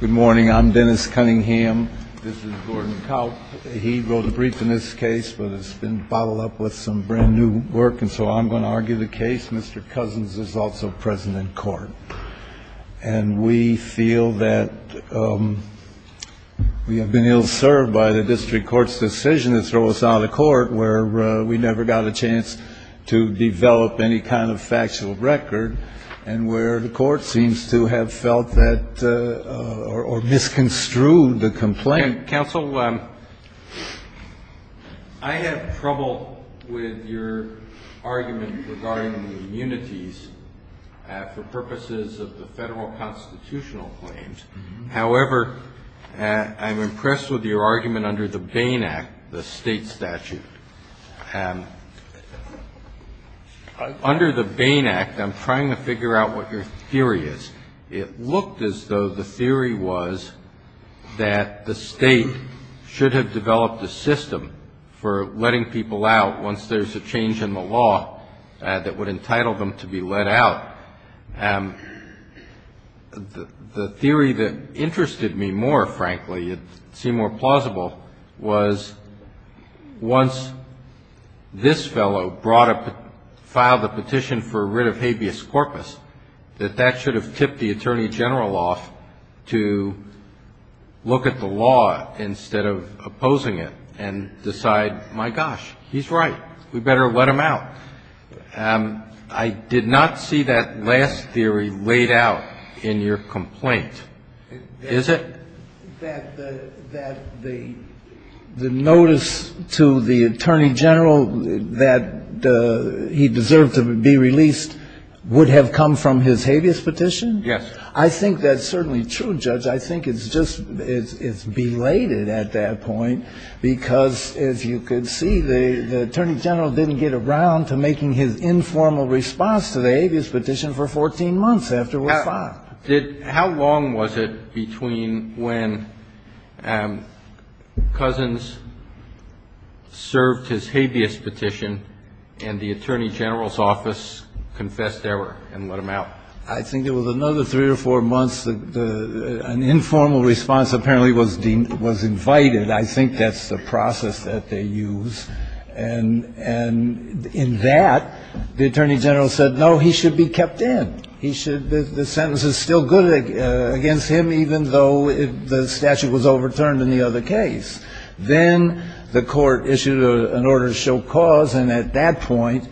Good morning, I'm Dennis Cunningham. This is Gordon Kaupp. He wrote a brief in this case, but it's been bottled up with some brand-new work, and so I'm going to argue the case. Mr. Cousins is also present in court, and we feel that we have been ill-served by the District Court's decision to throw us out of court, where we never got a chance to develop any kind of factual record, and where the Court seems to have felt that or misconstrued the complaint. Counsel, I have trouble with your argument regarding the immunities for purposes of the federal constitutional claims. However, I'm impressed with your argument under the Bain Act, the state statute. Under the Bain Act, I'm trying to figure out what your theory is. It looked as though the theory was that the state should have developed a system for letting people out once there's a change in the law that would entitle them to be let out. The theory that interested me more, frankly, it seemed more plausible, was once this fellow filed a petition for writ of habeas corpus, that that should have tipped the Attorney General off to look at the law instead of opposing it and decide, my gosh, he's right, we better let him out. I did not see that last theory laid out in your complaint. Is it? That the notice to the Attorney General that he deserved to be released would have come from his habeas petition? Yes. I think that's certainly true, Judge. I think it's just, it's belated at that point because, as you can see, the Attorney General didn't get around to making his informal response to the habeas petition for 14 months after it was filed. How long was it between when Cousins served his habeas petition and the Attorney General's office confessed error and let him out? I think it was another three or four months. An informal response apparently was invited. I think that's the process that they use. And in that, the Attorney General said, no, he should be kept in. The sentence is still good against him, even though the statute was overturned in the other case. Then the court issued an order to show cause, and at that point,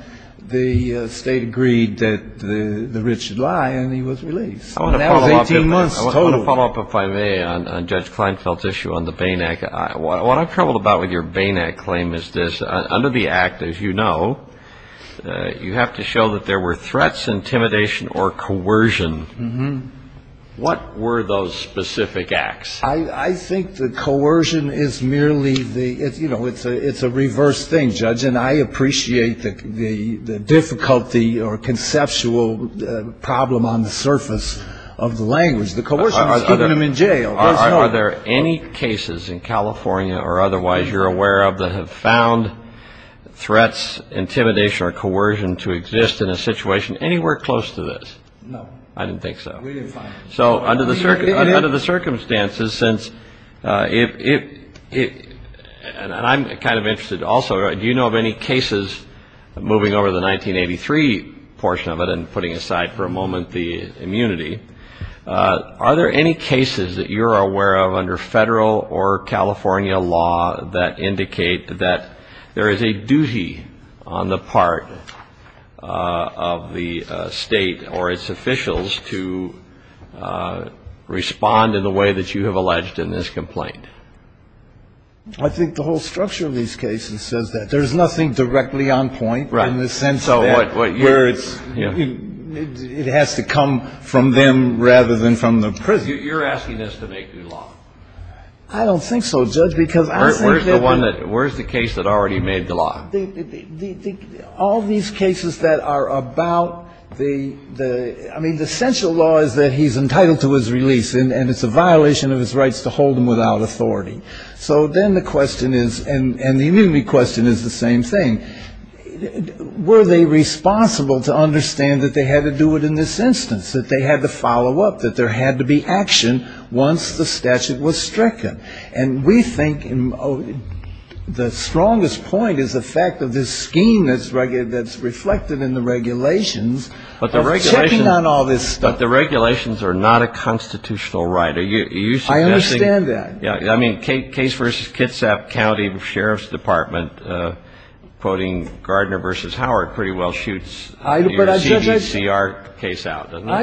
the State agreed that the writ should lie, and he was released. That was 18 months total. I want to follow up, if I may, on Judge Kleinfeld's issue on the Bain Act. What I'm troubled about with your Bain Act claim is this. Under the Act, as you know, you have to show that there were threats, intimidation, or coercion. What were those specific acts? I think the coercion is merely the, you know, it's a reverse thing, Judge, and I appreciate the difficulty or conceptual problem on the surface of the language. The coercion was keeping him in jail. Are there any cases in California or otherwise you're aware of that have found threats, intimidation, or coercion to exist in a situation anywhere close to this? No. I didn't think so. We didn't find any. So under the circumstances, since it, and I'm kind of interested also, do you know of any cases moving over the 1983 portion of it and putting aside for a moment the immunity, are there any cases that you're aware of under federal or California law that indicate that there is a duty on the part of the State or its officials to respond in the way that you have alleged in this complaint? I think the whole structure of these cases says that. There's nothing directly on point in the sense that where it's, it has to come from them rather than from the prison. You're asking us to make new law. I don't think so, Judge, because I think that the Where's the one that, where's the case that already made the law? All these cases that are about the, I mean, the essential law is that he's entitled to his release, and it's a violation of his rights to hold him without authority. So then the question is, and the immunity question is the same thing. Were they responsible to understand that they had to do it in this instance, that they had to follow up, that there had to be action once the statute was stricken? And we think the strongest point is the fact that this scheme that's reflected in the regulations is checking on all this stuff. But the regulations are not a constitutional right. Are you suggesting? I understand that. I mean, Case v. Kitsap County Sheriff's Department, quoting Gardner v. Howard, I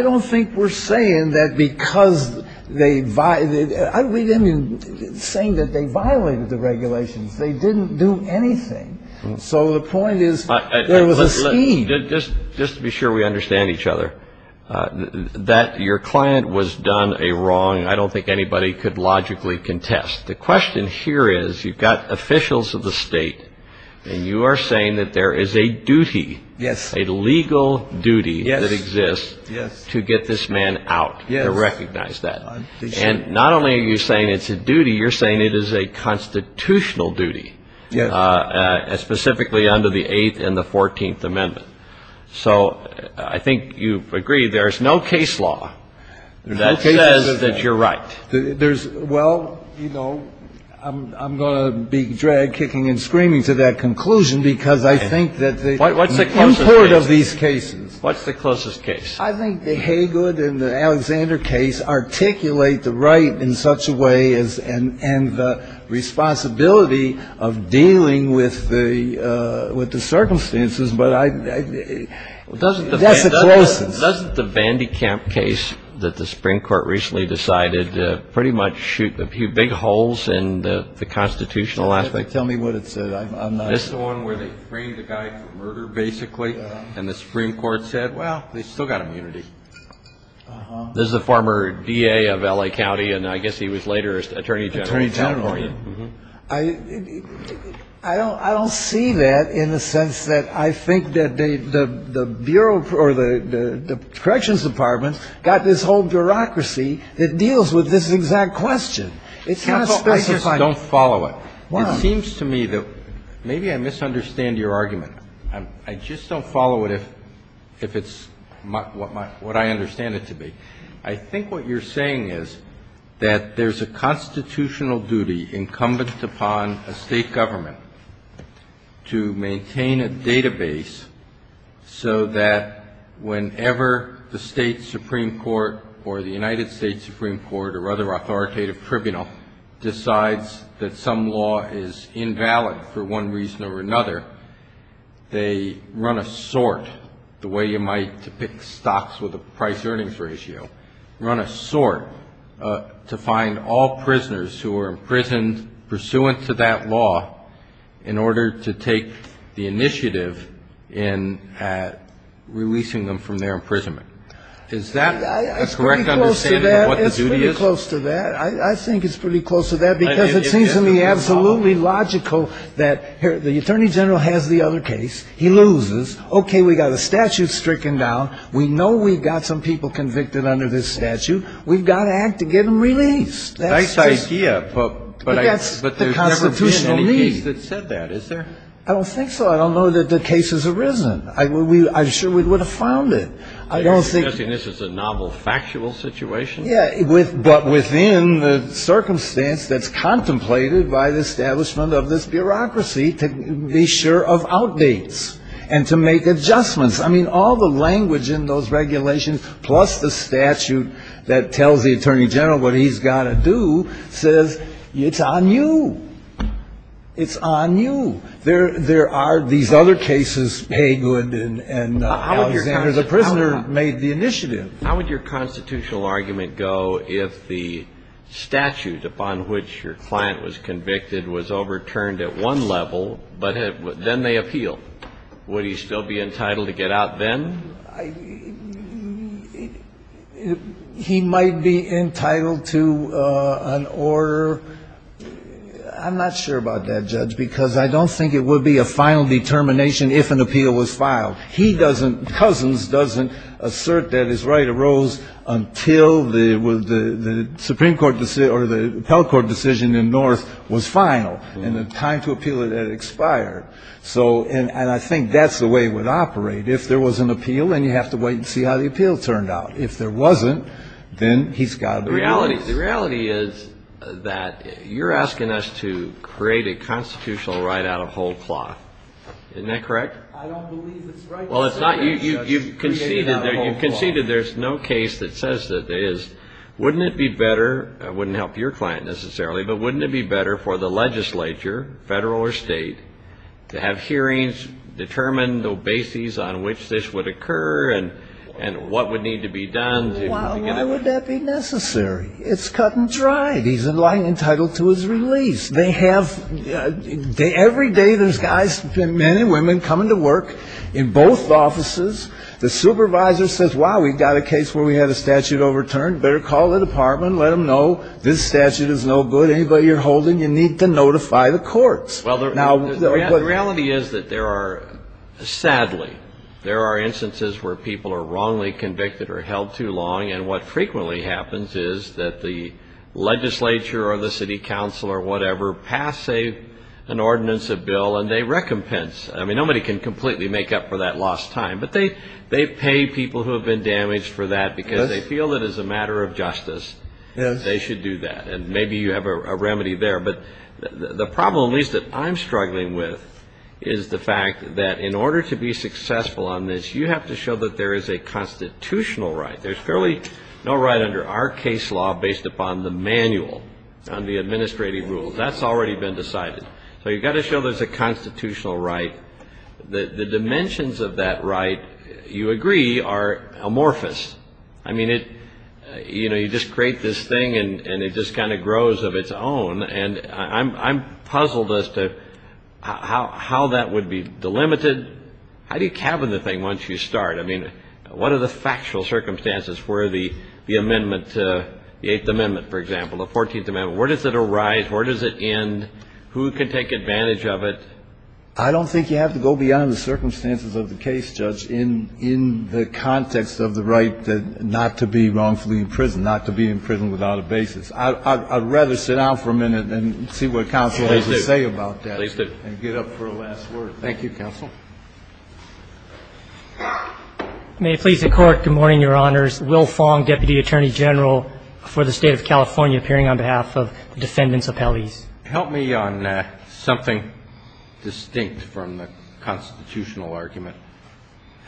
don't think we're saying that because they, I mean, saying that they violated the regulations. They didn't do anything. So the point is there was a scheme. Just to be sure we understand each other, that your client was done a wrong, I don't think anybody could logically contest. The question here is you've got officials of the state, and you are saying that there is a duty, a legal duty that exists. Yes. To get this man out. Yes. To recognize that. And not only are you saying it's a duty, you're saying it is a constitutional duty. Yes. Specifically under the Eighth and the Fourteenth Amendment. So I think you agree there's no case law that says that you're right. There's, well, you know, I'm going to be drag kicking and screaming to that conclusion because I think that the import of these cases. What's the closest case? I think the Haygood and the Alexander case articulate the right in such a way and the responsibility of dealing with the circumstances. But that's the closest. Doesn't the Van de Kamp case that the Supreme Court recently decided pretty much shoot a few big holes in the constitutional aspect? Tell me what it said. The one where they framed the guy for murder, basically. And the Supreme Court said, well, they've still got immunity. This is a former DA of L.A. County. And I guess he was later Attorney General of California. Attorney General. I don't see that in the sense that I think that the Bureau or the Corrections Department got this whole bureaucracy that deals with this exact question. It's not specified. Counsel, I just don't follow it. It seems to me that maybe I misunderstand your argument. I just don't follow it if it's what I understand it to be. I think what you're saying is that there's a constitutional duty incumbent upon a state government to maintain a database so that whenever the state Supreme Court or the United States Supreme Court or other authoritative tribunal decides that some law is invalid for one reason or another, they run a sort, the way you might depict stocks with a price-earnings ratio, run a sort to find all prisoners who are imprisoned pursuant to that law in order to take the initiative in releasing them from their imprisonment. Is that a correct understanding of what the duty is? It's pretty close to that. I think it's pretty close to that because it seems to me absolutely logical that the Attorney General has the other case. He loses. Okay, we've got a statute stricken down. We know we've got some people convicted under this statute. We've got to act to get them released. That's just the constitutional need. But there's never been any case that said that, is there? I don't think so. I don't know that the case has arisen. I'm sure we would have found it. You're suggesting this is a novel factual situation? Yeah, but within the circumstance that's contemplated by the establishment of this bureaucracy to be sure of outdates and to make adjustments. I mean, all the language in those regulations plus the statute that tells the Attorney General what he's got to do says it's on you. It's on you. There are these other cases, Haygood and Alexander. The prisoner made the initiative. How would your constitutional argument go if the statute upon which your client was convicted was overturned at one level, but then they appeal? Would he still be entitled to get out then? He might be entitled to an order. I'm not sure about that, Judge, because I don't think it would be a final determination if an appeal was filed. Cousins doesn't assert that his right arose until the Supreme Court decision or the Appellate Court decision in North was filed. And the time to appeal had expired. And I think that's the way it would operate. If there was an appeal, then you have to wait and see how the appeal turned out. If there wasn't, then he's got to be released. The reality is that you're asking us to create a constitutional right out of whole cloth. Isn't that correct? I don't believe it's right to say that, Judge. Well, it's not. You conceded there's no case that says that there is. I wouldn't help your client necessarily, but wouldn't it be better for the legislature, federal or state, to have hearings determine the basis on which this would occur and what would need to be done? Why would that be necessary? It's cut and dried. He's entitled to his release. Every day there's guys, men and women, coming to work in both offices. The supervisor says, wow, we've got a case where we had a statute overturned. You better call the department, let them know this statute is no good. Anybody you're holding, you need to notify the courts. The reality is that there are, sadly, there are instances where people are wrongly convicted or held too long, and what frequently happens is that the legislature or the city council or whatever pass an ordinance, a bill, and they recompense. I mean, nobody can completely make up for that lost time, but they pay people who have been damaged for that because they feel it is a matter of justice. They should do that, and maybe you have a remedy there. But the problem at least that I'm struggling with is the fact that in order to be successful on this, you have to show that there is a constitutional right. There's fairly no right under our case law based upon the manual, on the administrative rules. That's already been decided. So you've got to show there's a constitutional right. The dimensions of that right, you agree, are amorphous. I mean, it, you know, you just create this thing and it just kind of grows of its own, and I'm puzzled as to how that would be delimited. How do you cabin the thing once you start? I mean, what are the factual circumstances for the amendment, the Eighth Amendment, for example, the Fourteenth Amendment? Where does it arise? Where does it end? Who can take advantage of it? I don't think you have to go beyond the circumstances of the case, Judge, in the context of the right not to be wrongfully imprisoned, not to be imprisoned without a basis. I'd rather sit down for a minute and see what counsel has to say about that. Please do. And get up for a last word. Thank you, counsel. May it please the Court, good morning, Your Honors. Will Fong, Deputy Attorney General for the State of California, appearing on behalf of the Defendant's Appellees. Help me on something distinct from the constitutional argument.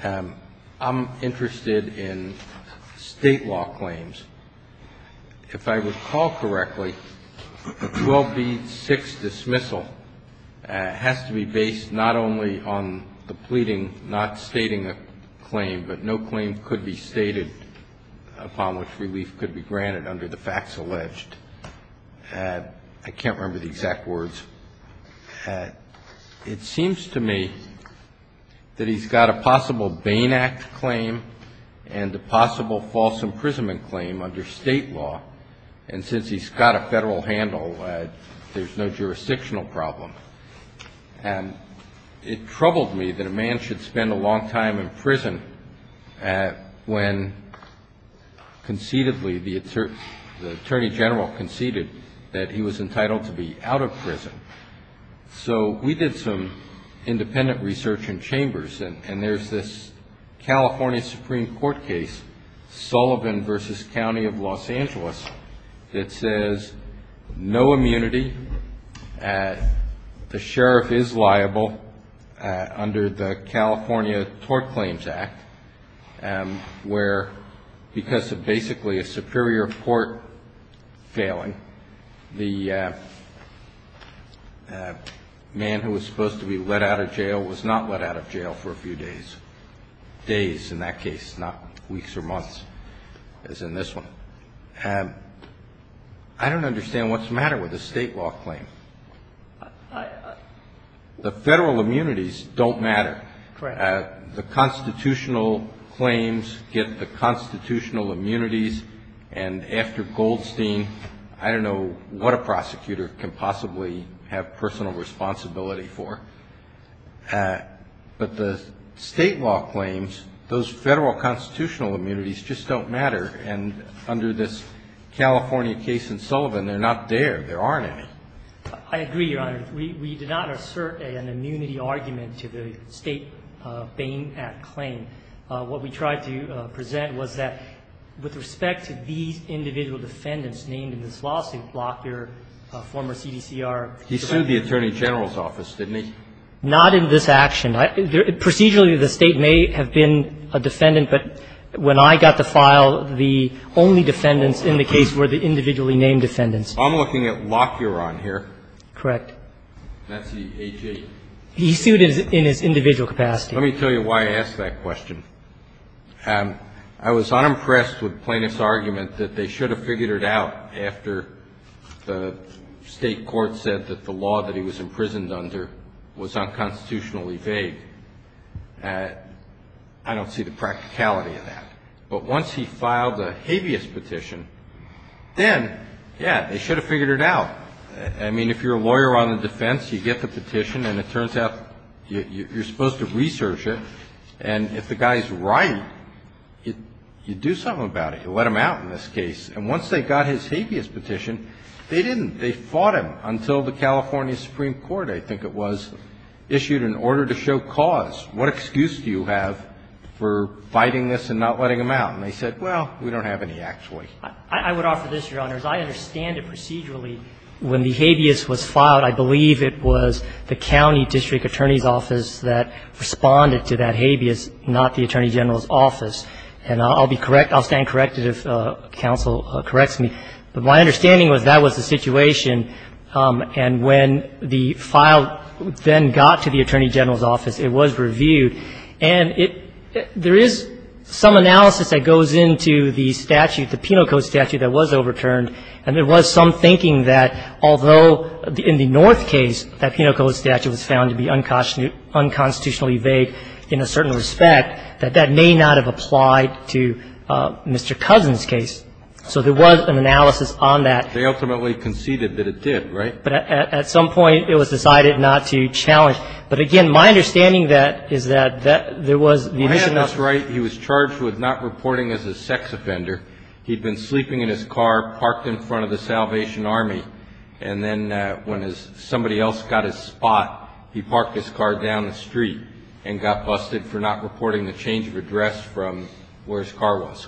I'm interested in State law claims. If I recall correctly, the 12B6 dismissal has to be based not only on the pleading, not stating a claim, but no claim could be stated upon which relief could be granted under the facts alleged. I can't remember the exact words. It seems to me that he's got a possible Bain Act claim and a possible false imprisonment claim under State law, and since he's got a federal handle, there's no jurisdictional problem. It troubled me that a man should spend a long time in prison when concededly the Attorney General conceded that he was entitled to be out of prison. So we did some independent research in chambers, and there's this California Supreme Court case, Sullivan v. County of Los Angeles, that says no immunity, the sheriff is liable under the California Tort Claims Act, where because of basically a superior court failing, the man who was supposed to be let out of jail was not let out of jail for a few days. Days in that case, not weeks or months, as in this one. I don't understand what's the matter with a State law claim. The federal immunities don't matter. The constitutional claims get the constitutional immunities, and after Goldstein, I don't know what a prosecutor can possibly have personal responsibility for. But the State law claims, those federal constitutional immunities just don't matter, and under this California case in Sullivan, they're not there. There aren't any. I agree, Your Honor. We did not assert an immunity argument to the State Bain Act claim. What we tried to present was that with respect to these individual defendants named in this lawsuit, Lockyer, former CDCR. He sued the Attorney General's office, didn't he? Not in this action. Procedurally, the State may have been a defendant, but when I got the file, the only defendants in the case were the individually named defendants. I'm looking at Lockyer on here. Correct. That's the AG. He sued in his individual capacity. Let me tell you why I asked that question. I was unimpressed with Plaintiff's argument that they should have figured it out after the State court said that the law that he was imprisoned under was unconstitutionally vague. I don't see the practicality of that. But once he filed a habeas petition, then, yeah, they should have figured it out. I mean, if you're a lawyer on the defense, you get the petition, and it turns out you're supposed to research it. And if the guy is right, you do something about it. You let him out in this case. And once they got his habeas petition, they didn't. They fought him until the California Supreme Court, I think it was, issued an order to show cause. What excuse do you have for fighting this and not letting him out? And they said, well, we don't have any actually. I would offer this, Your Honors. I understand it procedurally. When the habeas was filed, I believe it was the county district attorney's office that responded to that habeas, not the attorney general's office. And I'll be correct, I'll stand corrected if counsel corrects me. But my understanding was that was the situation. And when the file then got to the attorney general's office, it was reviewed. And it – there is some analysis that goes into the statute, the Penal Code statute that was overturned. And there was some thinking that although in the North case that Penal Code statute was found to be unconstitutionally vague in a certain respect, that that may not have applied to Mr. Cousin's case. So there was an analysis on that. They ultimately conceded that it did, right? But at some point, it was decided not to challenge. But, again, my understanding is that there was the issue of – Your Honor, that's right. He was charged with not reporting as a sex offender. He'd been sleeping in his car, parked in front of the Salvation Army. And then when somebody else got his spot, he parked his car down the street and got busted for not reporting the change of address from where his car was.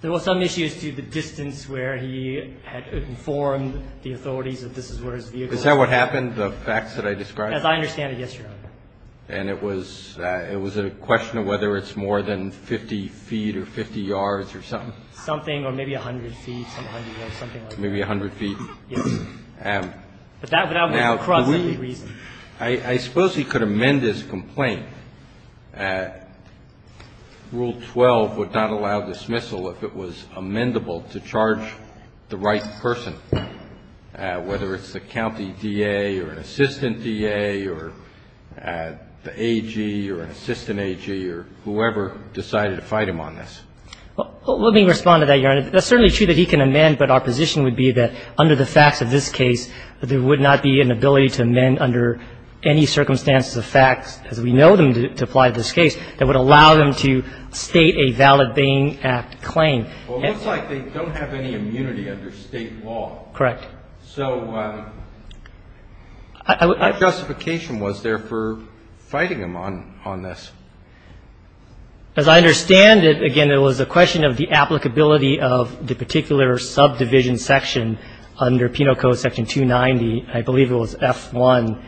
There were some issues to the distance where he had informed the authorities that this is where his vehicle was. Is that what happened, the facts that I described? As I understand it, yes, Your Honor. And it was a question of whether it's more than 50 feet or 50 yards or something? Something, or maybe 100 feet, something like that. Maybe 100 feet? Yes. But that would have been across every reason. Now, I suppose he could amend his complaint. Rule 12 would not allow dismissal if it was amendable to charge the right person, whether it's the county D.A. or an assistant D.A. or the A.G. or an assistant A.G. or whoever decided to fight him on this. Well, let me respond to that, Your Honor. It's certainly true that he can amend, but our position would be that under the facts of this case, there would not be an ability to amend under any circumstances of facts, as we know them to apply to this case, that would allow them to state a valid Bain Act claim. Well, it looks like they don't have any immunity under state law. Correct. So what justification was there for fighting him on this? As I understand it, again, it was a question of the applicability of the particular subdivision section under Penal Code Section 290. I believe it was F1.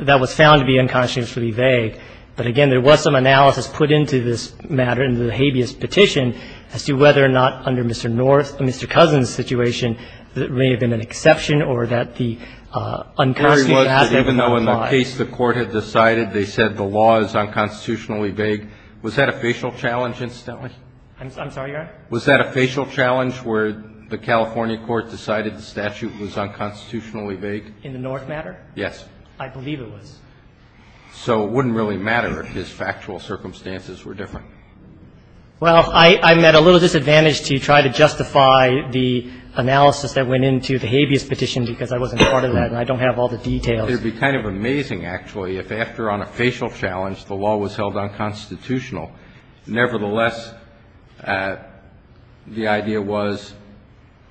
That was found to be unconsciously vague. But, again, there was some analysis put into this matter, into the habeas petition, as to whether or not under Mr. North, Mr. Cousin's situation, there may have been an exception or that the unconstitutional aspect would apply. Even though in the case the Court had decided they said the law is unconstitutionally vague, was that a facial challenge, incidentally? I'm sorry, Your Honor? Was that a facial challenge where the California Court decided the statute was unconstitutionally vague? In the North matter? Yes. I believe it was. So it wouldn't really matter if his factual circumstances were different. Well, I'm at a little disadvantage to try to justify the analysis that went into the habeas petition because I wasn't part of that and I don't have all the details. It would be kind of amazing, actually, if after on a facial challenge the law was held unconstitutional. Nevertheless, the idea was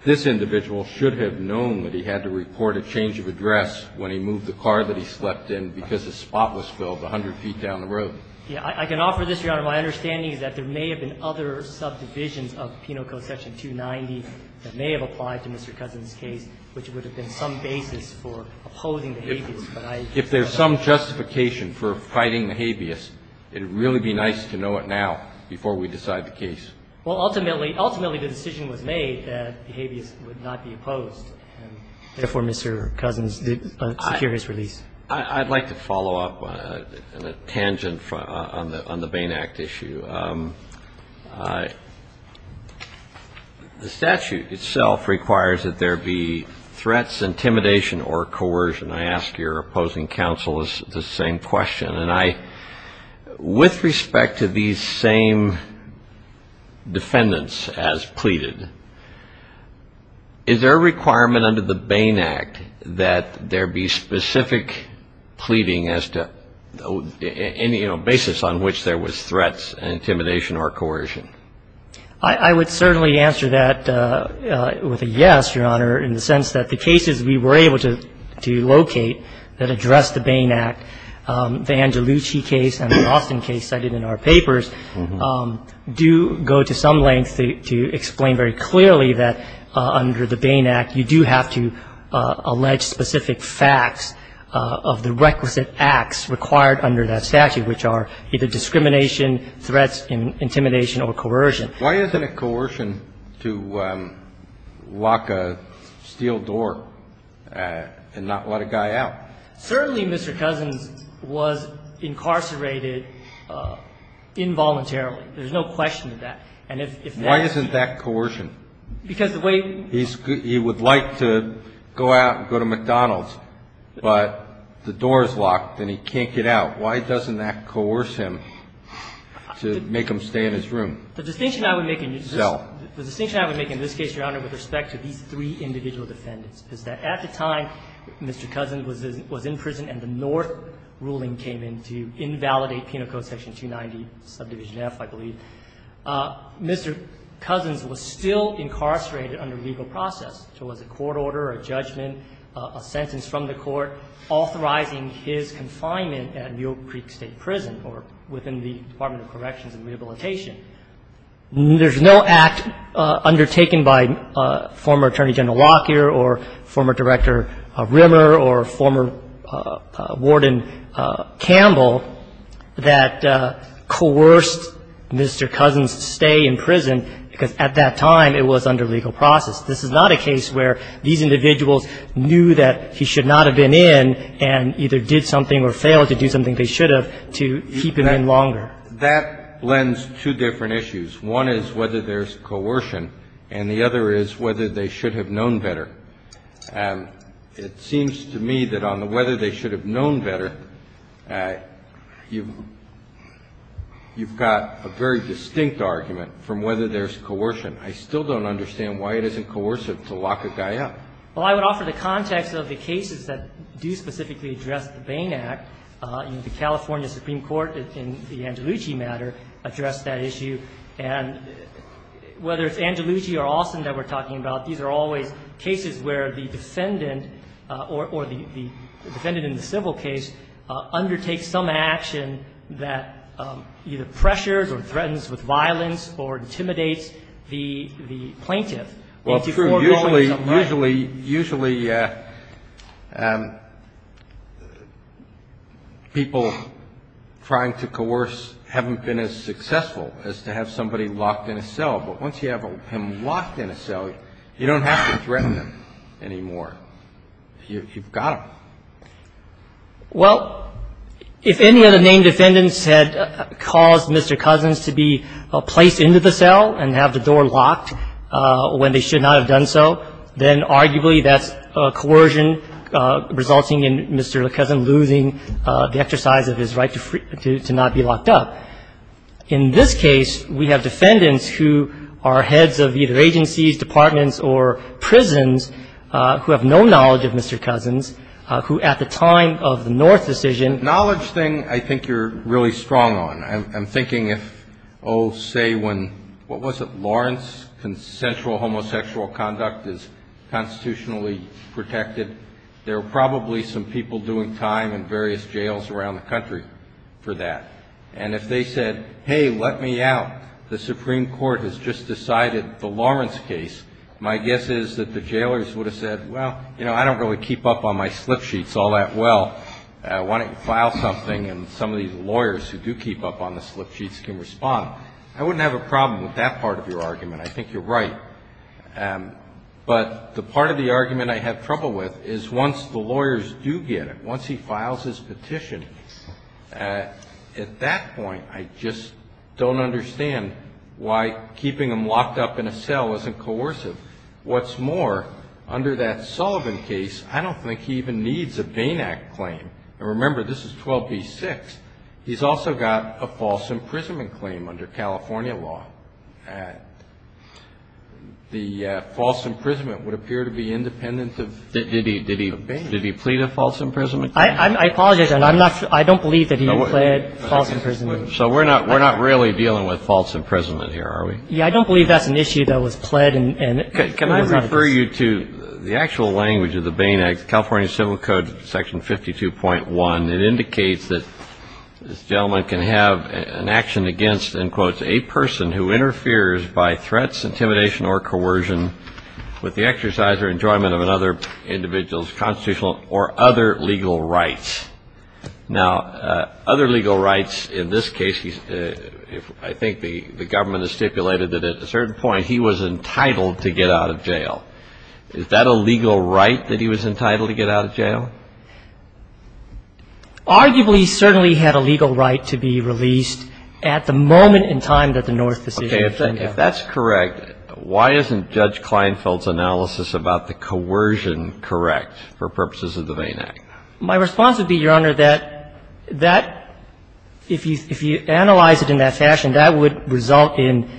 this individual should have known that he had to report a change of address when he moved the car that he slept in because the spot was filled 100 feet down the road. Yes. I can offer this, Your Honor. My understanding is that there may have been other subdivisions of Penal Code section 290 that may have applied to Mr. Cousin's case, which would have been some basis for opposing the habeas. If there's some justification for fighting the habeas, it would really be nice to know it now before we decide the case. Well, ultimately, ultimately the decision was made that the habeas would not be opposed. Therefore, Mr. Cousin did secure his release. I'd like to follow up on a tangent on the Bain Act issue. The statute itself requires that there be threats, intimidation or coercion. I ask your opposing counsel the same question. With respect to these same defendants as pleaded, is there a requirement under the Bain Act that there be specific pleading as to any basis on which there was threats, intimidation or coercion? I would certainly answer that with a yes, Your Honor, in the sense that the cases we were able to locate that address the Bain Act, the Angelucci case and the Austin case cited in our papers, do go to some length to explain very clearly that under the Bain Act, you do have to allege specific facts of the requisite acts required under that statute, which are either discrimination, threats, intimidation or coercion. Why isn't it coercion to lock a steel door and not let a guy out? Certainly Mr. Cousin was incarcerated involuntarily. There's no question of that. Why isn't that coercion? Because the way he would like to go out and go to McDonald's, but the door is locked and he can't get out. Why doesn't that coerce him to make him stay in his room? The distinction I would make in this case, Your Honor, with respect to these three individual defendants is that at the time Mr. Cousin was in prison and the North ruling came in to invalidate Penal Code Section 290, subdivision F, I believe, Mr. Cousin was still incarcerated under legal process. So it was a court order or a judgment, a sentence from the court authorizing his confinement at Mule Creek State Prison or within the Department of Corrections and Rehabilitation, there's no act undertaken by former Attorney General Lockyer or former Director Rimmer or former Warden Campbell that coerced Mr. Cousin to stay in prison because at that time it was under legal process. This is not a case where these individuals knew that he should not have been in and either did something or failed to do something they should have to keep him in longer. That lends two different issues. One is whether there's coercion, and the other is whether they should have known better. It seems to me that on the whether they should have known better, you've got a very distinct argument from whether there's coercion. I still don't understand why it isn't coercive to lock a guy up. Well, I would offer the context of the cases that do specifically address the Bain Act, and the California Supreme Court in the Angelucci matter addressed that issue. And whether it's Angelucci or Alston that we're talking about, these are always cases where the defendant or the defendant in the civil case undertakes some action that either pressures or threatens with violence or intimidates the plaintiff. Well, usually, usually, usually people trying to coerce haven't been as successful as to have somebody locked in a cell. But once you have him locked in a cell, you don't have to threaten him anymore. You've got him. Well, if any of the named defendants had caused Mr. Cousins to be placed into the cell and have the door locked when they should not have done so, then arguably, that's coercion resulting in Mr. Cousins losing the exercise of his right to not be locked up. In this case, we have defendants who are heads of either agencies, departments, or prisons who have no knowledge of Mr. Cousins, who at the time of the North decision I think you're really strong on. I'm thinking if, oh, say when, what was it, Lawrence, consensual homosexual conduct is constitutionally protected, there are probably some people doing time in various jails around the country for that. And if they said, hey, let me out. The Supreme Court has just decided the Lawrence case. My guess is that the jailers would have said, well, you know, I don't really keep up on my slip sheets all that well. Why don't you file something and some of these lawyers who do keep up on the slip sheets can respond. I wouldn't have a problem with that part of your argument. I think you're right. But the part of the argument I have trouble with is once the lawyers do get it, once he files his petition, at that point I just don't understand why keeping him locked up in a cell isn't coercive. I think the question is, what's more, under that Sullivan case, I don't think he even needs a Bain Act claim. And remember, this is 12b-6. He's also got a false imprisonment claim under California law. The false imprisonment would appear to be independent of Bain. Did he plead a false imprisonment? I apologize. I'm not sure. I don't believe that he had pled false imprisonment. So we're not really dealing with false imprisonment here, are we? Yeah, I don't believe that's an issue that was pled. Can I refer you to the actual language of the Bain Act, California Civil Code, Section 52.1? It indicates that this gentleman can have an action against, in quotes, a person who interferes by threats, intimidation, or coercion with the exercise or enjoyment of another individual's constitutional or other legal rights. Now, other legal rights in this case, I think the government has stipulated that at a certain point he was entitled to get out of jail. Is that a legal right that he was entitled to get out of jail? Arguably, he certainly had a legal right to be released at the moment in time that the North decision was made. Okay. If that's correct, why isn't Judge Kleinfeld's analysis about the coercion correct for purposes of the Bain Act? My response would be, Your Honor, that if you analyze it in that fashion, that would result in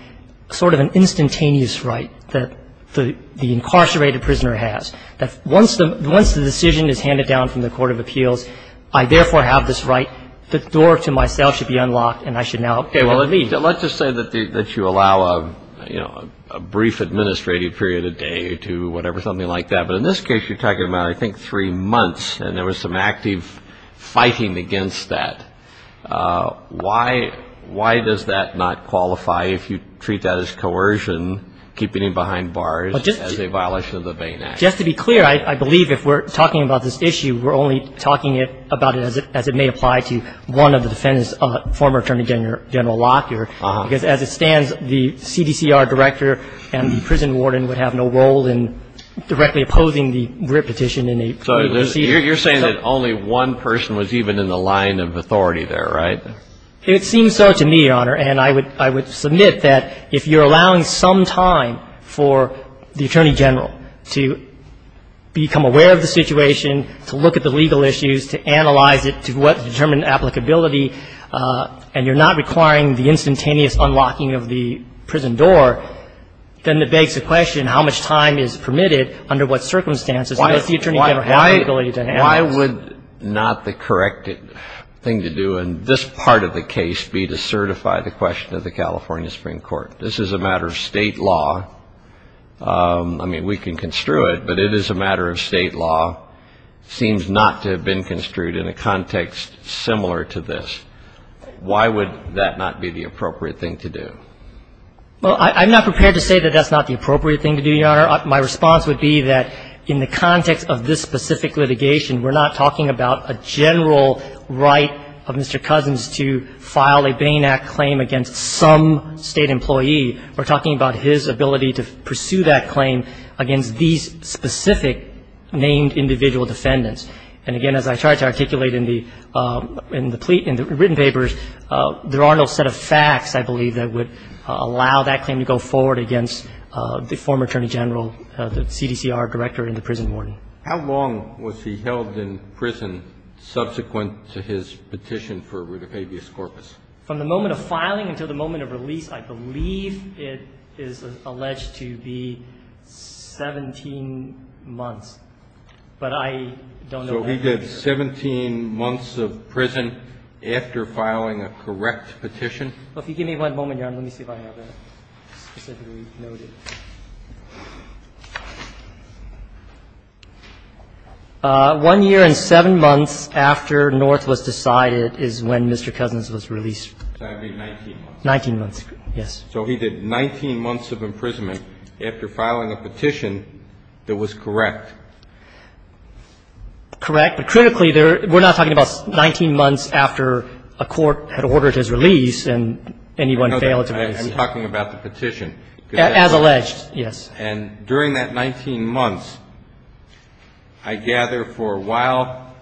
sort of an instantaneous right that the incarcerated prisoner has, that once the decision is handed down from the court of appeals, I therefore have this right. The door to myself should be unlocked, and I should now be able to leave. Let's just say that you allow a brief administrative period, a day or two, whatever, something like that. But in this case, you're talking about I think three months, and there was some active fighting against that. Why does that not qualify if you treat that as coercion, keeping him behind bars as a violation of the Bain Act? Just to be clear, I believe if we're talking about this issue, we're only talking about it as it may apply to one of the defendants, a former Attorney General Lockyer, because as it stands, the CDCR director and the prison warden would have no role in directly opposing the writ petition in a procedure. So you're saying that only one person was even in the line of authority there, right? It seems so to me, Your Honor, and I would submit that if you're allowing some time for the Attorney General to become aware of the situation, to look at the legal issues, to analyze it to determine applicability, and you're not requiring the instantaneous unlocking of the prison door, then it begs the question how much time is permitted under what circumstances does the Attorney General have the ability to handle this? Why would not the correct thing to do in this part of the case be to certify the question of the California Supreme Court? This is a matter of State law. I mean, we can construe it, but it is a matter of State law. It seems not to have been construed in a context similar to this. Why would that not be the appropriate thing to do? Well, I'm not prepared to say that that's not the appropriate thing to do, Your Honor. My response would be that in the context of this specific litigation, we're not talking about a general right of Mr. Cousins to file a Bain Act claim against some State employee. We're talking about his ability to pursue that claim against these specific named individual defendants. And, again, as I tried to articulate in the plea, in the written papers, there are no set of facts, I believe, that would allow that claim to go forward against the former Attorney General, the CDCR director in the prison warden. How long was he held in prison subsequent to his petition for rudifabia scorpis? From the moment of filing until the moment of release, I believe it is alleged to be 17 months, but I don't know that figure. So he did 17 months of prison after filing a correct petition? Well, if you give me one moment, Your Honor, let me see if I have it specifically noted. One year and seven months after North was decided is when Mr. Cousins was released. So that would be 19 months? 19 months, yes. So he did 19 months of imprisonment after filing a petition that was correct? Correct. But critically, we're not talking about 19 months after a court had ordered his release I'm talking about the petition. As alleged, yes. And during that 19 months, I gather for a while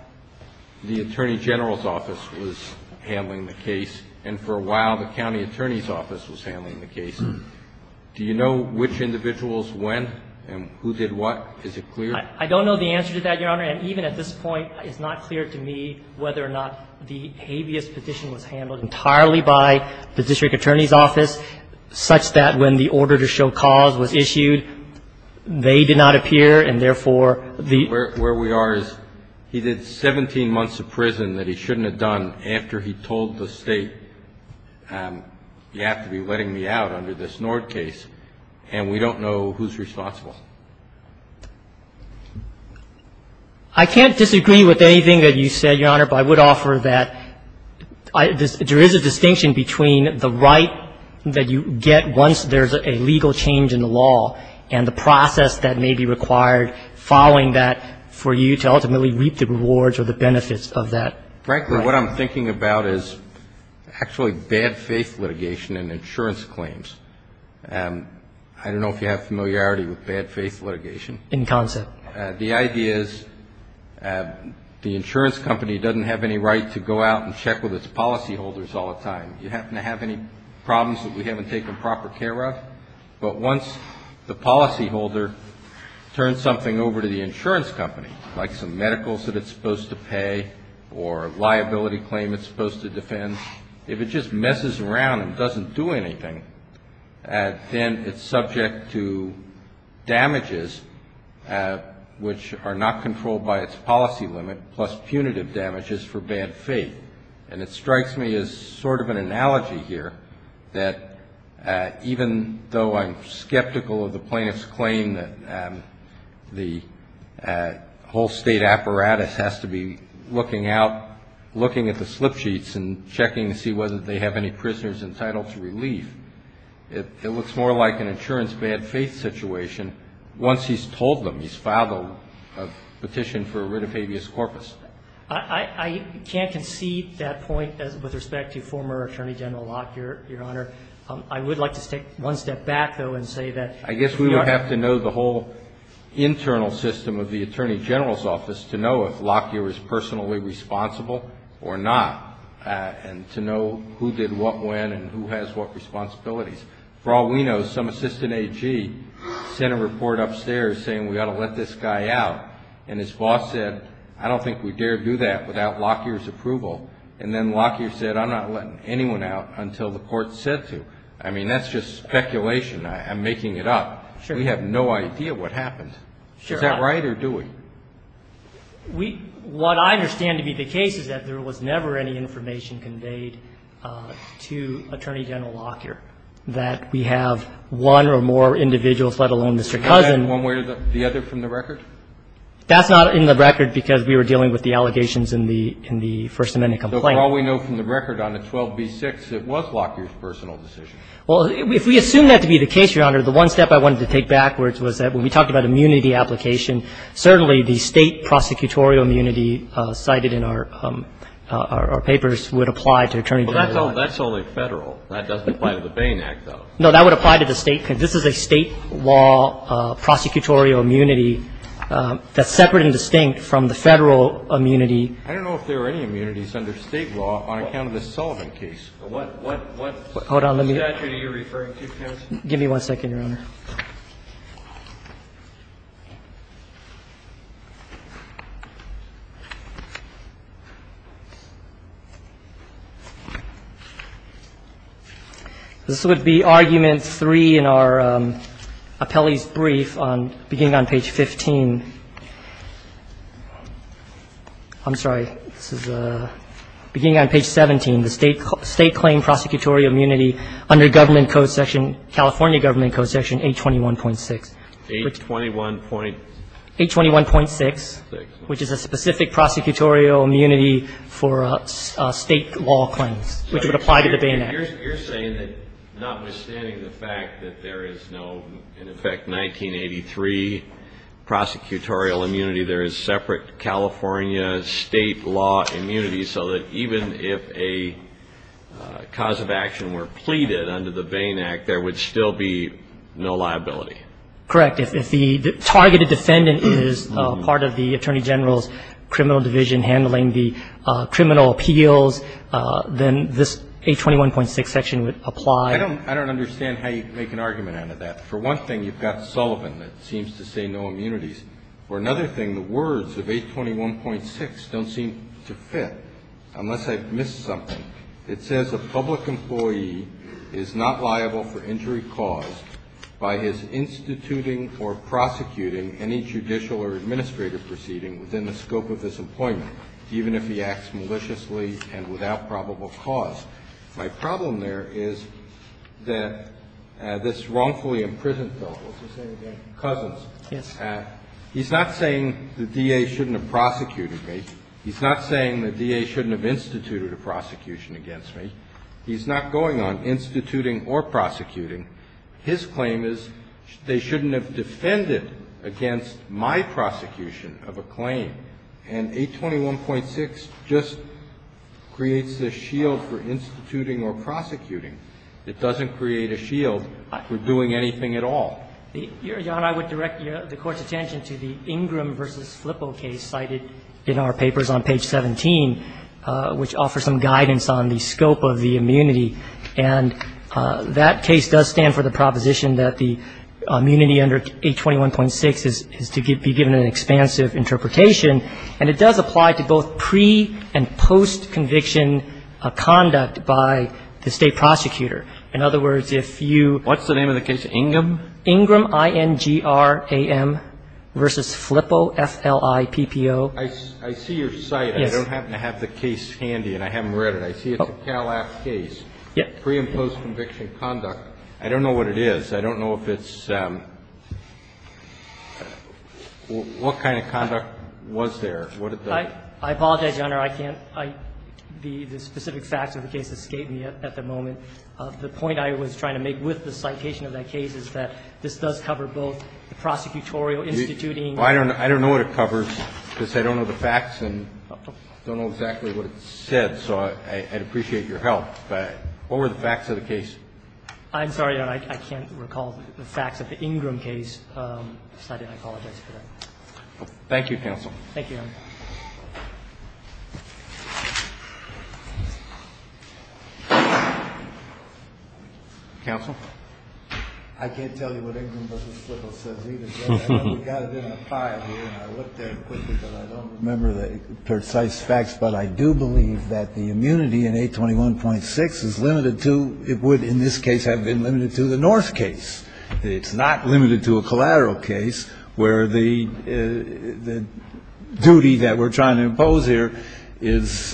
the Attorney General's office was handling the case and for a while the county attorney's office was handling the case. Do you know which individuals when and who did what? Is it clear? I don't know the answer to that, Your Honor, and even at this point it's not clear to me whether or not the habeas petition was handled entirely by the district attorney's office, such that when the order to show cause was issued, they did not appear and therefore the Where we are is he did 17 months of prison that he shouldn't have done after he told the State, you have to be letting me out under this North case, and we don't know who's responsible. I can't disagree with anything that you said, Your Honor, but I would offer that there is a distinction between the right that you get once there's a legal change in the law and the process that may be required following that for you to ultimately reap the rewards or the benefits of that. Frankly, what I'm thinking about is actually bad faith litigation and insurance claims. I don't know if you have familiarity with bad faith litigation. In concept. The idea is the insurance company doesn't have any right to go out and check with its policyholders all the time. You happen to have any problems that we haven't taken proper care of. But once the policyholder turns something over to the insurance company, like some medicals that it's supposed to pay or a liability claim it's supposed to defend, if it just messes around and doesn't do anything, then it's subject to damages which are not controlled by its policy limit, plus punitive damages for bad faith. And it strikes me as sort of an analogy here that even though I'm skeptical of the plaintiff's claim that the whole state apparatus has to be looking out, looking at the slip sheets and checking to see whether they have any prisoners entitled to relief, it looks more like an insurance bad faith situation once he's told them he's filed a petition for a writ of habeas corpus. I can't concede that point with respect to former Attorney General Locke, Your Honor. I would like to take one step back, though, and say that I guess we would have to know the whole internal system of the Attorney General's office to know if Locke was personally responsible or not and to know who did what when and who has what responsibilities. For all we know, some assistant AG sent a report upstairs saying we ought to let this guy out. And his boss said, I don't think we dare do that without Locke's approval. And then Locke said, I'm not letting anyone out until the court says to. I mean, that's just speculation. I'm making it up. We have no idea what happened. Is that right or do we? What I understand to be the case is that there was never any information conveyed to Attorney General Locke that we have one or more individuals, let alone Mr. Cousin. And that's not in the record because we were dealing with the allegations in the First Amendment complaint. So for all we know from the record on the 12b-6, it was Locke's personal decision. Well, if we assume that to be the case, Your Honor, the one step I wanted to take backwards was that when we talked about immunity application, certainly the State prosecutorial immunity cited in our papers would apply to Attorney General Locke. Well, that's only Federal. That doesn't apply to the Bain Act, though. No, that would apply to the State. This is a State law prosecutorial immunity that's separate and distinct from the Federal immunity. I don't know if there were any immunities under State law on account of the Sullivan case. What statute are you referring to, counsel? Give me one second, Your Honor. This would be argument three in our appellee's brief beginning on page 15. I'm sorry. This is beginning on page 17, the State claim prosecutorial immunity under California Government Code Section 824. 821.6. 821. 821.6, which is a specific prosecutorial immunity for State law claims, which would apply to the Bain Act. You're saying that notwithstanding the fact that there is no, in effect, 1983 prosecutorial immunity, there is separate California State law immunity so that even if a cause of action were pleaded under the Bain Act, there would still be no liability? Correct. If the targeted defendant is part of the Attorney General's criminal division handling the criminal appeals, then this 821.6 section would apply. I don't understand how you make an argument out of that. For one thing, you've got Sullivan that seems to say no immunities. For another thing, the words of 821.6 don't seem to fit, unless I've missed something. It says a public employee is not liable for injury caused by his instituting or prosecuting any judicial or administrative proceeding within the scope of his employment, even if he acts maliciously and without probable cause. My problem there is that this wrongfully imprisoned fellow, what's his name again? Cousins. Yes. He's not saying the DA shouldn't have prosecuted me. He's not saying the DA shouldn't have instituted a prosecution against me. He's not going on instituting or prosecuting. His claim is they shouldn't have defended against my prosecution of a claim. And 821.6 just creates this shield for instituting or prosecuting. It doesn't create a shield for doing anything at all. Your Honor, I would direct the Court's attention to the Ingram v. Flippo case cited in our papers on page 17, which offers some guidance on the scope of the immunity. And that case does stand for the proposition that the immunity under 821.6 is to be given an expansive interpretation. And it does apply to both pre- and post-conviction conduct by the State prosecutor. In other words, if you ---- What's the name of the case? Ingram? Ingram, I-N-G-R-A-M, v. Flippo, F-L-I-P-P-O. I see your cite. Yes. I don't happen to have the case handy, and I haven't read it. I see it's a Cal-Act case. Yes. Pre- and post-conviction conduct. I don't know what it is. I don't know if it's ---- what kind of conduct was there? I apologize, Your Honor. I can't be the specific facts of the case that escape me at the moment. The point I was trying to make with the citation of that case is that this does cover both the prosecutorial instituting. Well, I don't know what it covers, because I don't know the facts and don't know exactly what it said. So I'd appreciate your help. But what were the facts of the case? I'm sorry, Your Honor. I can't recall the facts of the Ingram case. I apologize for that. Thank you, counsel. Thank you, Your Honor. Counsel? I can't tell you what Ingram v. Slicko says either, Your Honor. We've got it in a file here, and I looked at it quickly, but I don't remember the precise facts. But I do believe that the immunity in 821.6 is limited to ---- it would, in this case, have been limited to the North case. It's not limited to a collateral case where the duty that we're trying to impose here is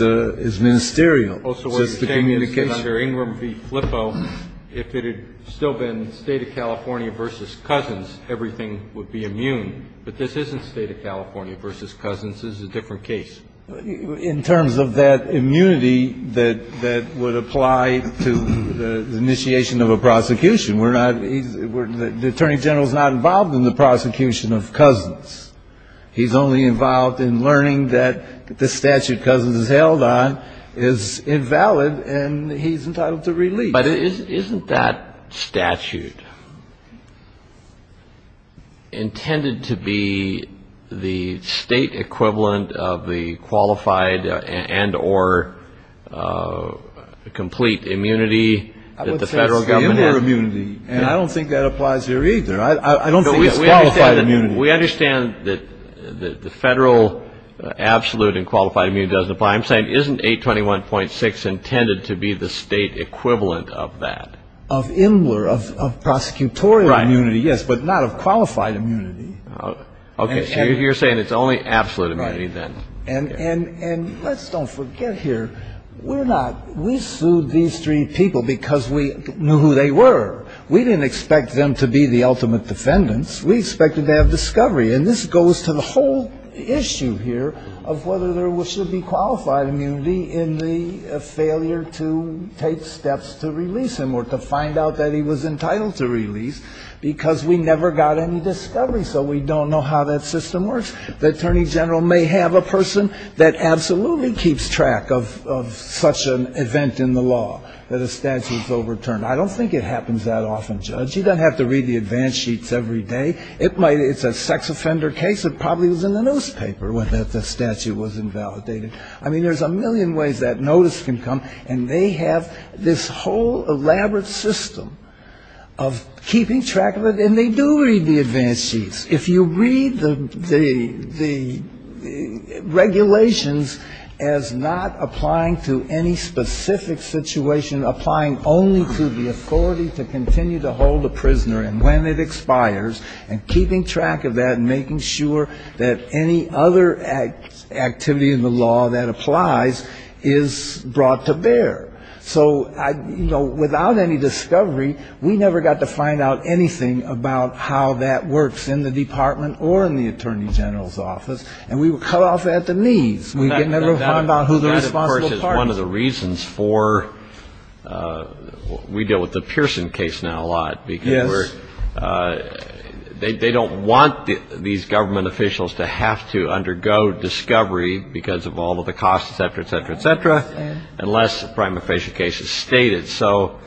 ministerial. So it's the communication. Also, what you're saying is that under Ingram v. Slicko, if it had still been State of California v. Cousins, everything would be immune. But this isn't State of California v. Cousins. This is a different case. In terms of that immunity that would apply to the initiation of a prosecution, the Attorney General is not involved in the prosecution of Cousins. He's only involved in learning that the statute Cousins is held on is invalid, and he's entitled to release. But isn't that statute intended to be the State equivalent of the qualified and or complete immunity that the Federal Government has? And I don't think that applies here either. I don't think it's qualified immunity. We understand that the Federal absolute and qualified immunity doesn't apply. I'm saying isn't 821.6 intended to be the State equivalent of that? Of Imler, of prosecutorial immunity, yes, but not of qualified immunity. Okay. So you're saying it's only absolute immunity then. Right. And let's don't forget here, we're not ---- we sued these three people because we knew who they were. We didn't expect them to be the ultimate defendants. We expected to have discovery. And this goes to the whole issue here of whether there should be qualified immunity in the failure to take steps to release him or to find out that he was entitled to release because we never got any discovery. So we don't know how that system works. that a statute was overturned. I don't think it happens that often, Judge. You don't have to read the advance sheets every day. It might ---- it's a sex offender case. It probably was in the newspaper that the statute was invalidated. I mean, there's a million ways that notice can come, and they have this whole elaborate system of keeping track of it, and they do read the advance sheets. If you read the regulations as not applying to any specific situation, applying only to the authority to continue to hold a prisoner and when it expires, and keeping track of that and making sure that any other activity in the law that applies is brought to bear. So, you know, without any discovery, we never got to find out anything about how that works in the Department or in the Attorney General's office, and we were cut off at the knees. We never found out who the responsible party was. That, of course, is one of the reasons for we deal with the Pearson case now a lot. Yes. Because we're ---- they don't want these government officials to have to undergo discovery because of all of the costs, et cetera, et cetera, et cetera, unless a prime official case is stated. So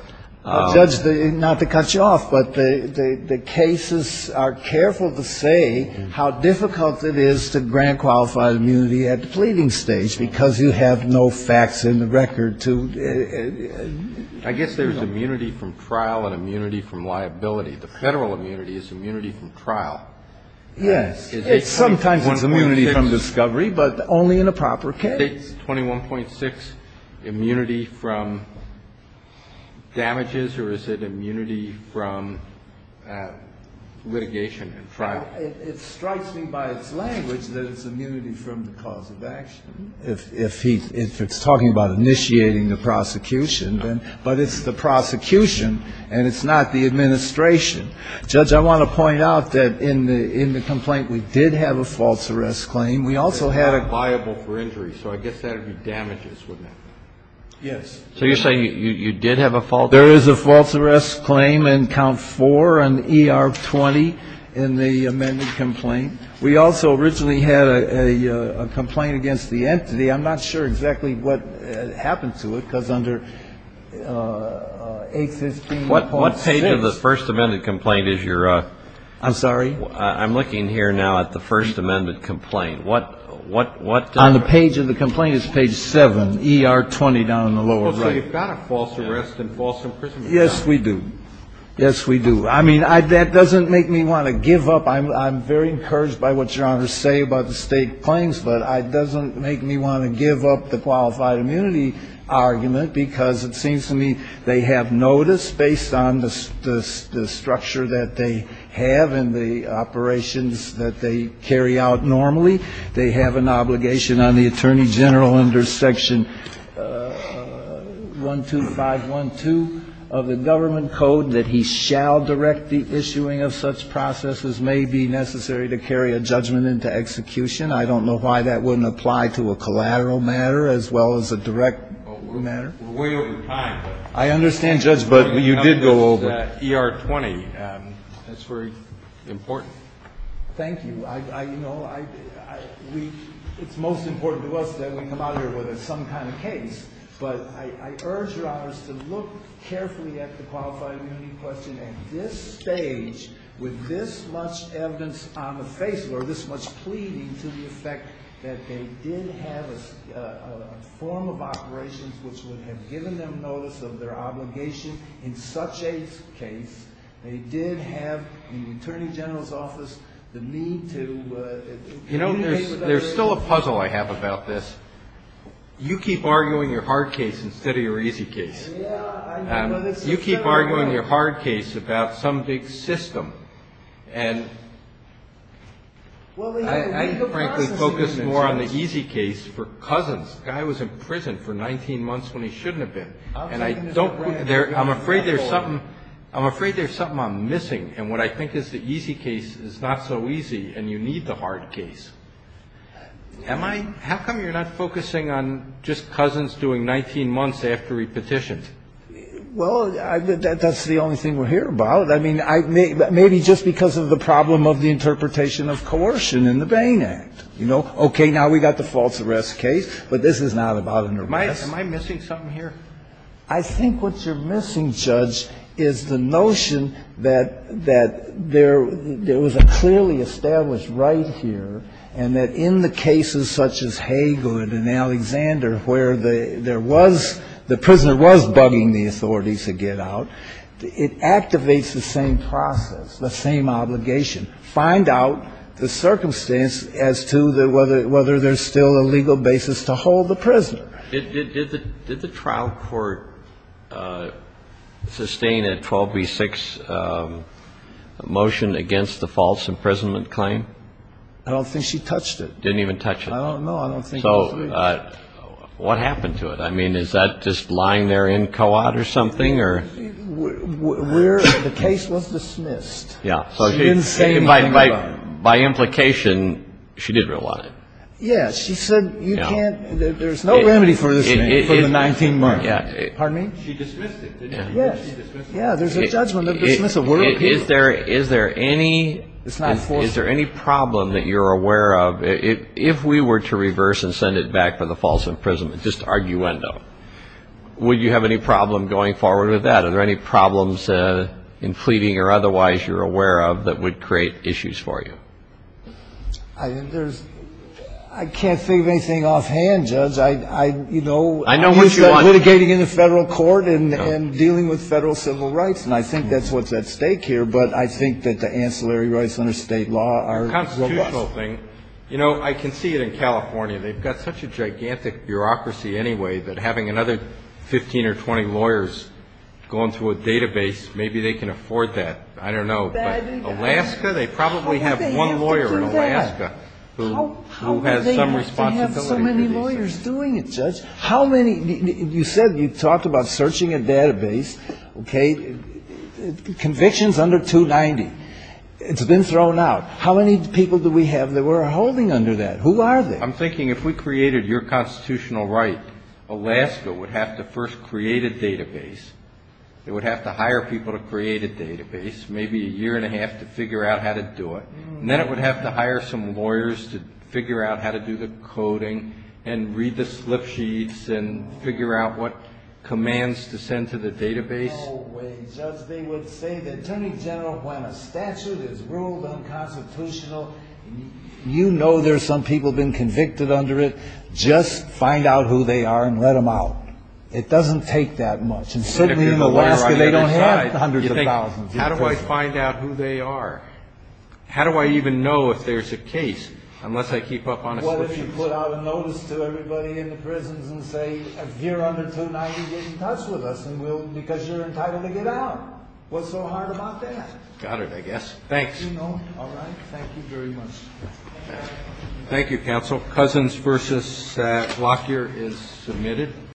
---- Well, Judge, not to cut you off, but the cases are careful to say how difficult it is to grant qualified immunity at the pleading stage because you have no facts in the record to ---- I guess there's immunity from trial and immunity from liability. The Federal immunity is immunity from trial. Yes. It's sometimes immunity from discovery, but only in a proper case. Is State's 21.6 immunity from damages or is it immunity from litigation and trial? It strikes me by its language that it's immunity from the cause of action. If he's talking about initiating the prosecution, but it's the prosecution and it's not the administration. Judge, I want to point out that in the complaint we did have a false arrest claim. We also had a ---- So I guess that would be damages, wouldn't it? Yes. So you're saying you did have a false arrest? There is a false arrest claim in count four on ER 20 in the amended complaint. We also originally had a complaint against the entity. I'm not sure exactly what happened to it because under 815.6 ---- What page of the first amended complaint is your ---- I'm sorry? I'm looking here now at the first amended complaint. What ---- On the page of the complaint is page 7, ER 20 down in the lower right. So you've got a false arrest and false imprisonment. Yes, we do. Yes, we do. I mean, that doesn't make me want to give up. I'm very encouraged by what Your Honor say about the State claims, but it doesn't make me want to give up the qualified immunity argument because it seems to me they have notice based on the structure that they have and the operations that they carry out normally. They have an obligation on the attorney general under section 12512 of the government code that he shall direct the issuing of such processes may be necessary to carry a judgment into execution. I don't know why that wouldn't apply to a collateral matter as well as a direct matter. We're way over time. I understand, Judge, but you did go over. ER 20, that's very important. Thank you. You know, it's most important to us that we come out here with some kind of case. But I urge Your Honors to look carefully at the qualified immunity question at this stage with this much evidence on the face or this much pleading to the effect that they did have a form of operations which would have given them notice of their obligation in such a case. They did have in the attorney general's office the need to. You know, there's still a puzzle I have about this. You keep arguing your hard case instead of your easy case. You keep arguing your hard case about some big system. And I frankly focus more on the easy case for cousins. The guy was in prison for 19 months when he shouldn't have been. And I'm afraid there's something I'm missing in what I think is the easy case is not so easy and you need the hard case. How come you're not focusing on just cousins doing 19 months after he petitioned? Well, that's the only thing we'll hear about. I mean, maybe just because of the problem of the interpretation of coercion in the Bain Act. You know, okay, now we've got the false arrest case, but this is not about an arrest. Am I missing something here? I think what you're missing, Judge, is the notion that there was a clearly established right here and that in the cases such as Hagel and Alexander where there was, the prisoner was bugging the authorities to get out, it activates the same process, the same obligation. Find out the circumstance as to whether there's still a legal basis to hold the prisoner. Did the trial court sustain a 12b-6 motion against the false imprisonment claim? I don't think she touched it. Didn't even touch it? No, I don't think so. So what happened to it? I mean, is that just lying there in co-op or something or? The case was dismissed. Yeah. By implication, she didn't want it. Yeah, she said you can't, there's no remedy for this thing, for the 19 marks. Pardon me? She dismissed it. Yeah, there's a judgment of dismissal. Is there any problem that you're aware of? If we were to reverse and send it back for the false imprisonment, just arguendo, would you have any problem going forward with that? Are there any problems in fleeting or otherwise you're aware of that would create issues for you? I can't think of anything offhand, Judge. I'm used to litigating in the Federal court and dealing with Federal civil rights, and I think that's what's at stake here. But I think that the ancillary rights under State law are robust. The constitutional thing, you know, I can see it in California. They've got such a gigantic bureaucracy anyway that having another 15 or 20 lawyers going through a database, maybe they can afford that. I don't know. But Alaska, they probably have one lawyer in Alaska who has some responsibility to these things. How do they have so many lawyers doing it, Judge? How many? You said you talked about searching a database, okay, convictions under 290. It's been thrown out. How many people do we have that we're holding under that? Who are they? I'm thinking if we created your constitutional right, Alaska would have to first create a database. It would have to hire people to create a database, maybe a year and a half to figure out how to do it. Then it would have to hire some lawyers to figure out how to do the coding and read the slip sheets and figure out what commands to send to the database. No way, Judge. They would say the Attorney General, when a statute is ruled unconstitutional, you know there are some people who have been convicted under it. Just find out who they are and let them out. It doesn't take that much. And certainly in Alaska, they don't have hundreds of thousands. How do I find out who they are? How do I even know if there's a case unless I keep up on a slip sheet? What if you put out a notice to everybody in the prisons and say, if you're under 290, get in touch with us because you're entitled to get out. What's so hard about that? Got it, I guess. Thanks. All right. Thank you very much. Thank you, Counsel. Cousins v. Lockyer is submitted.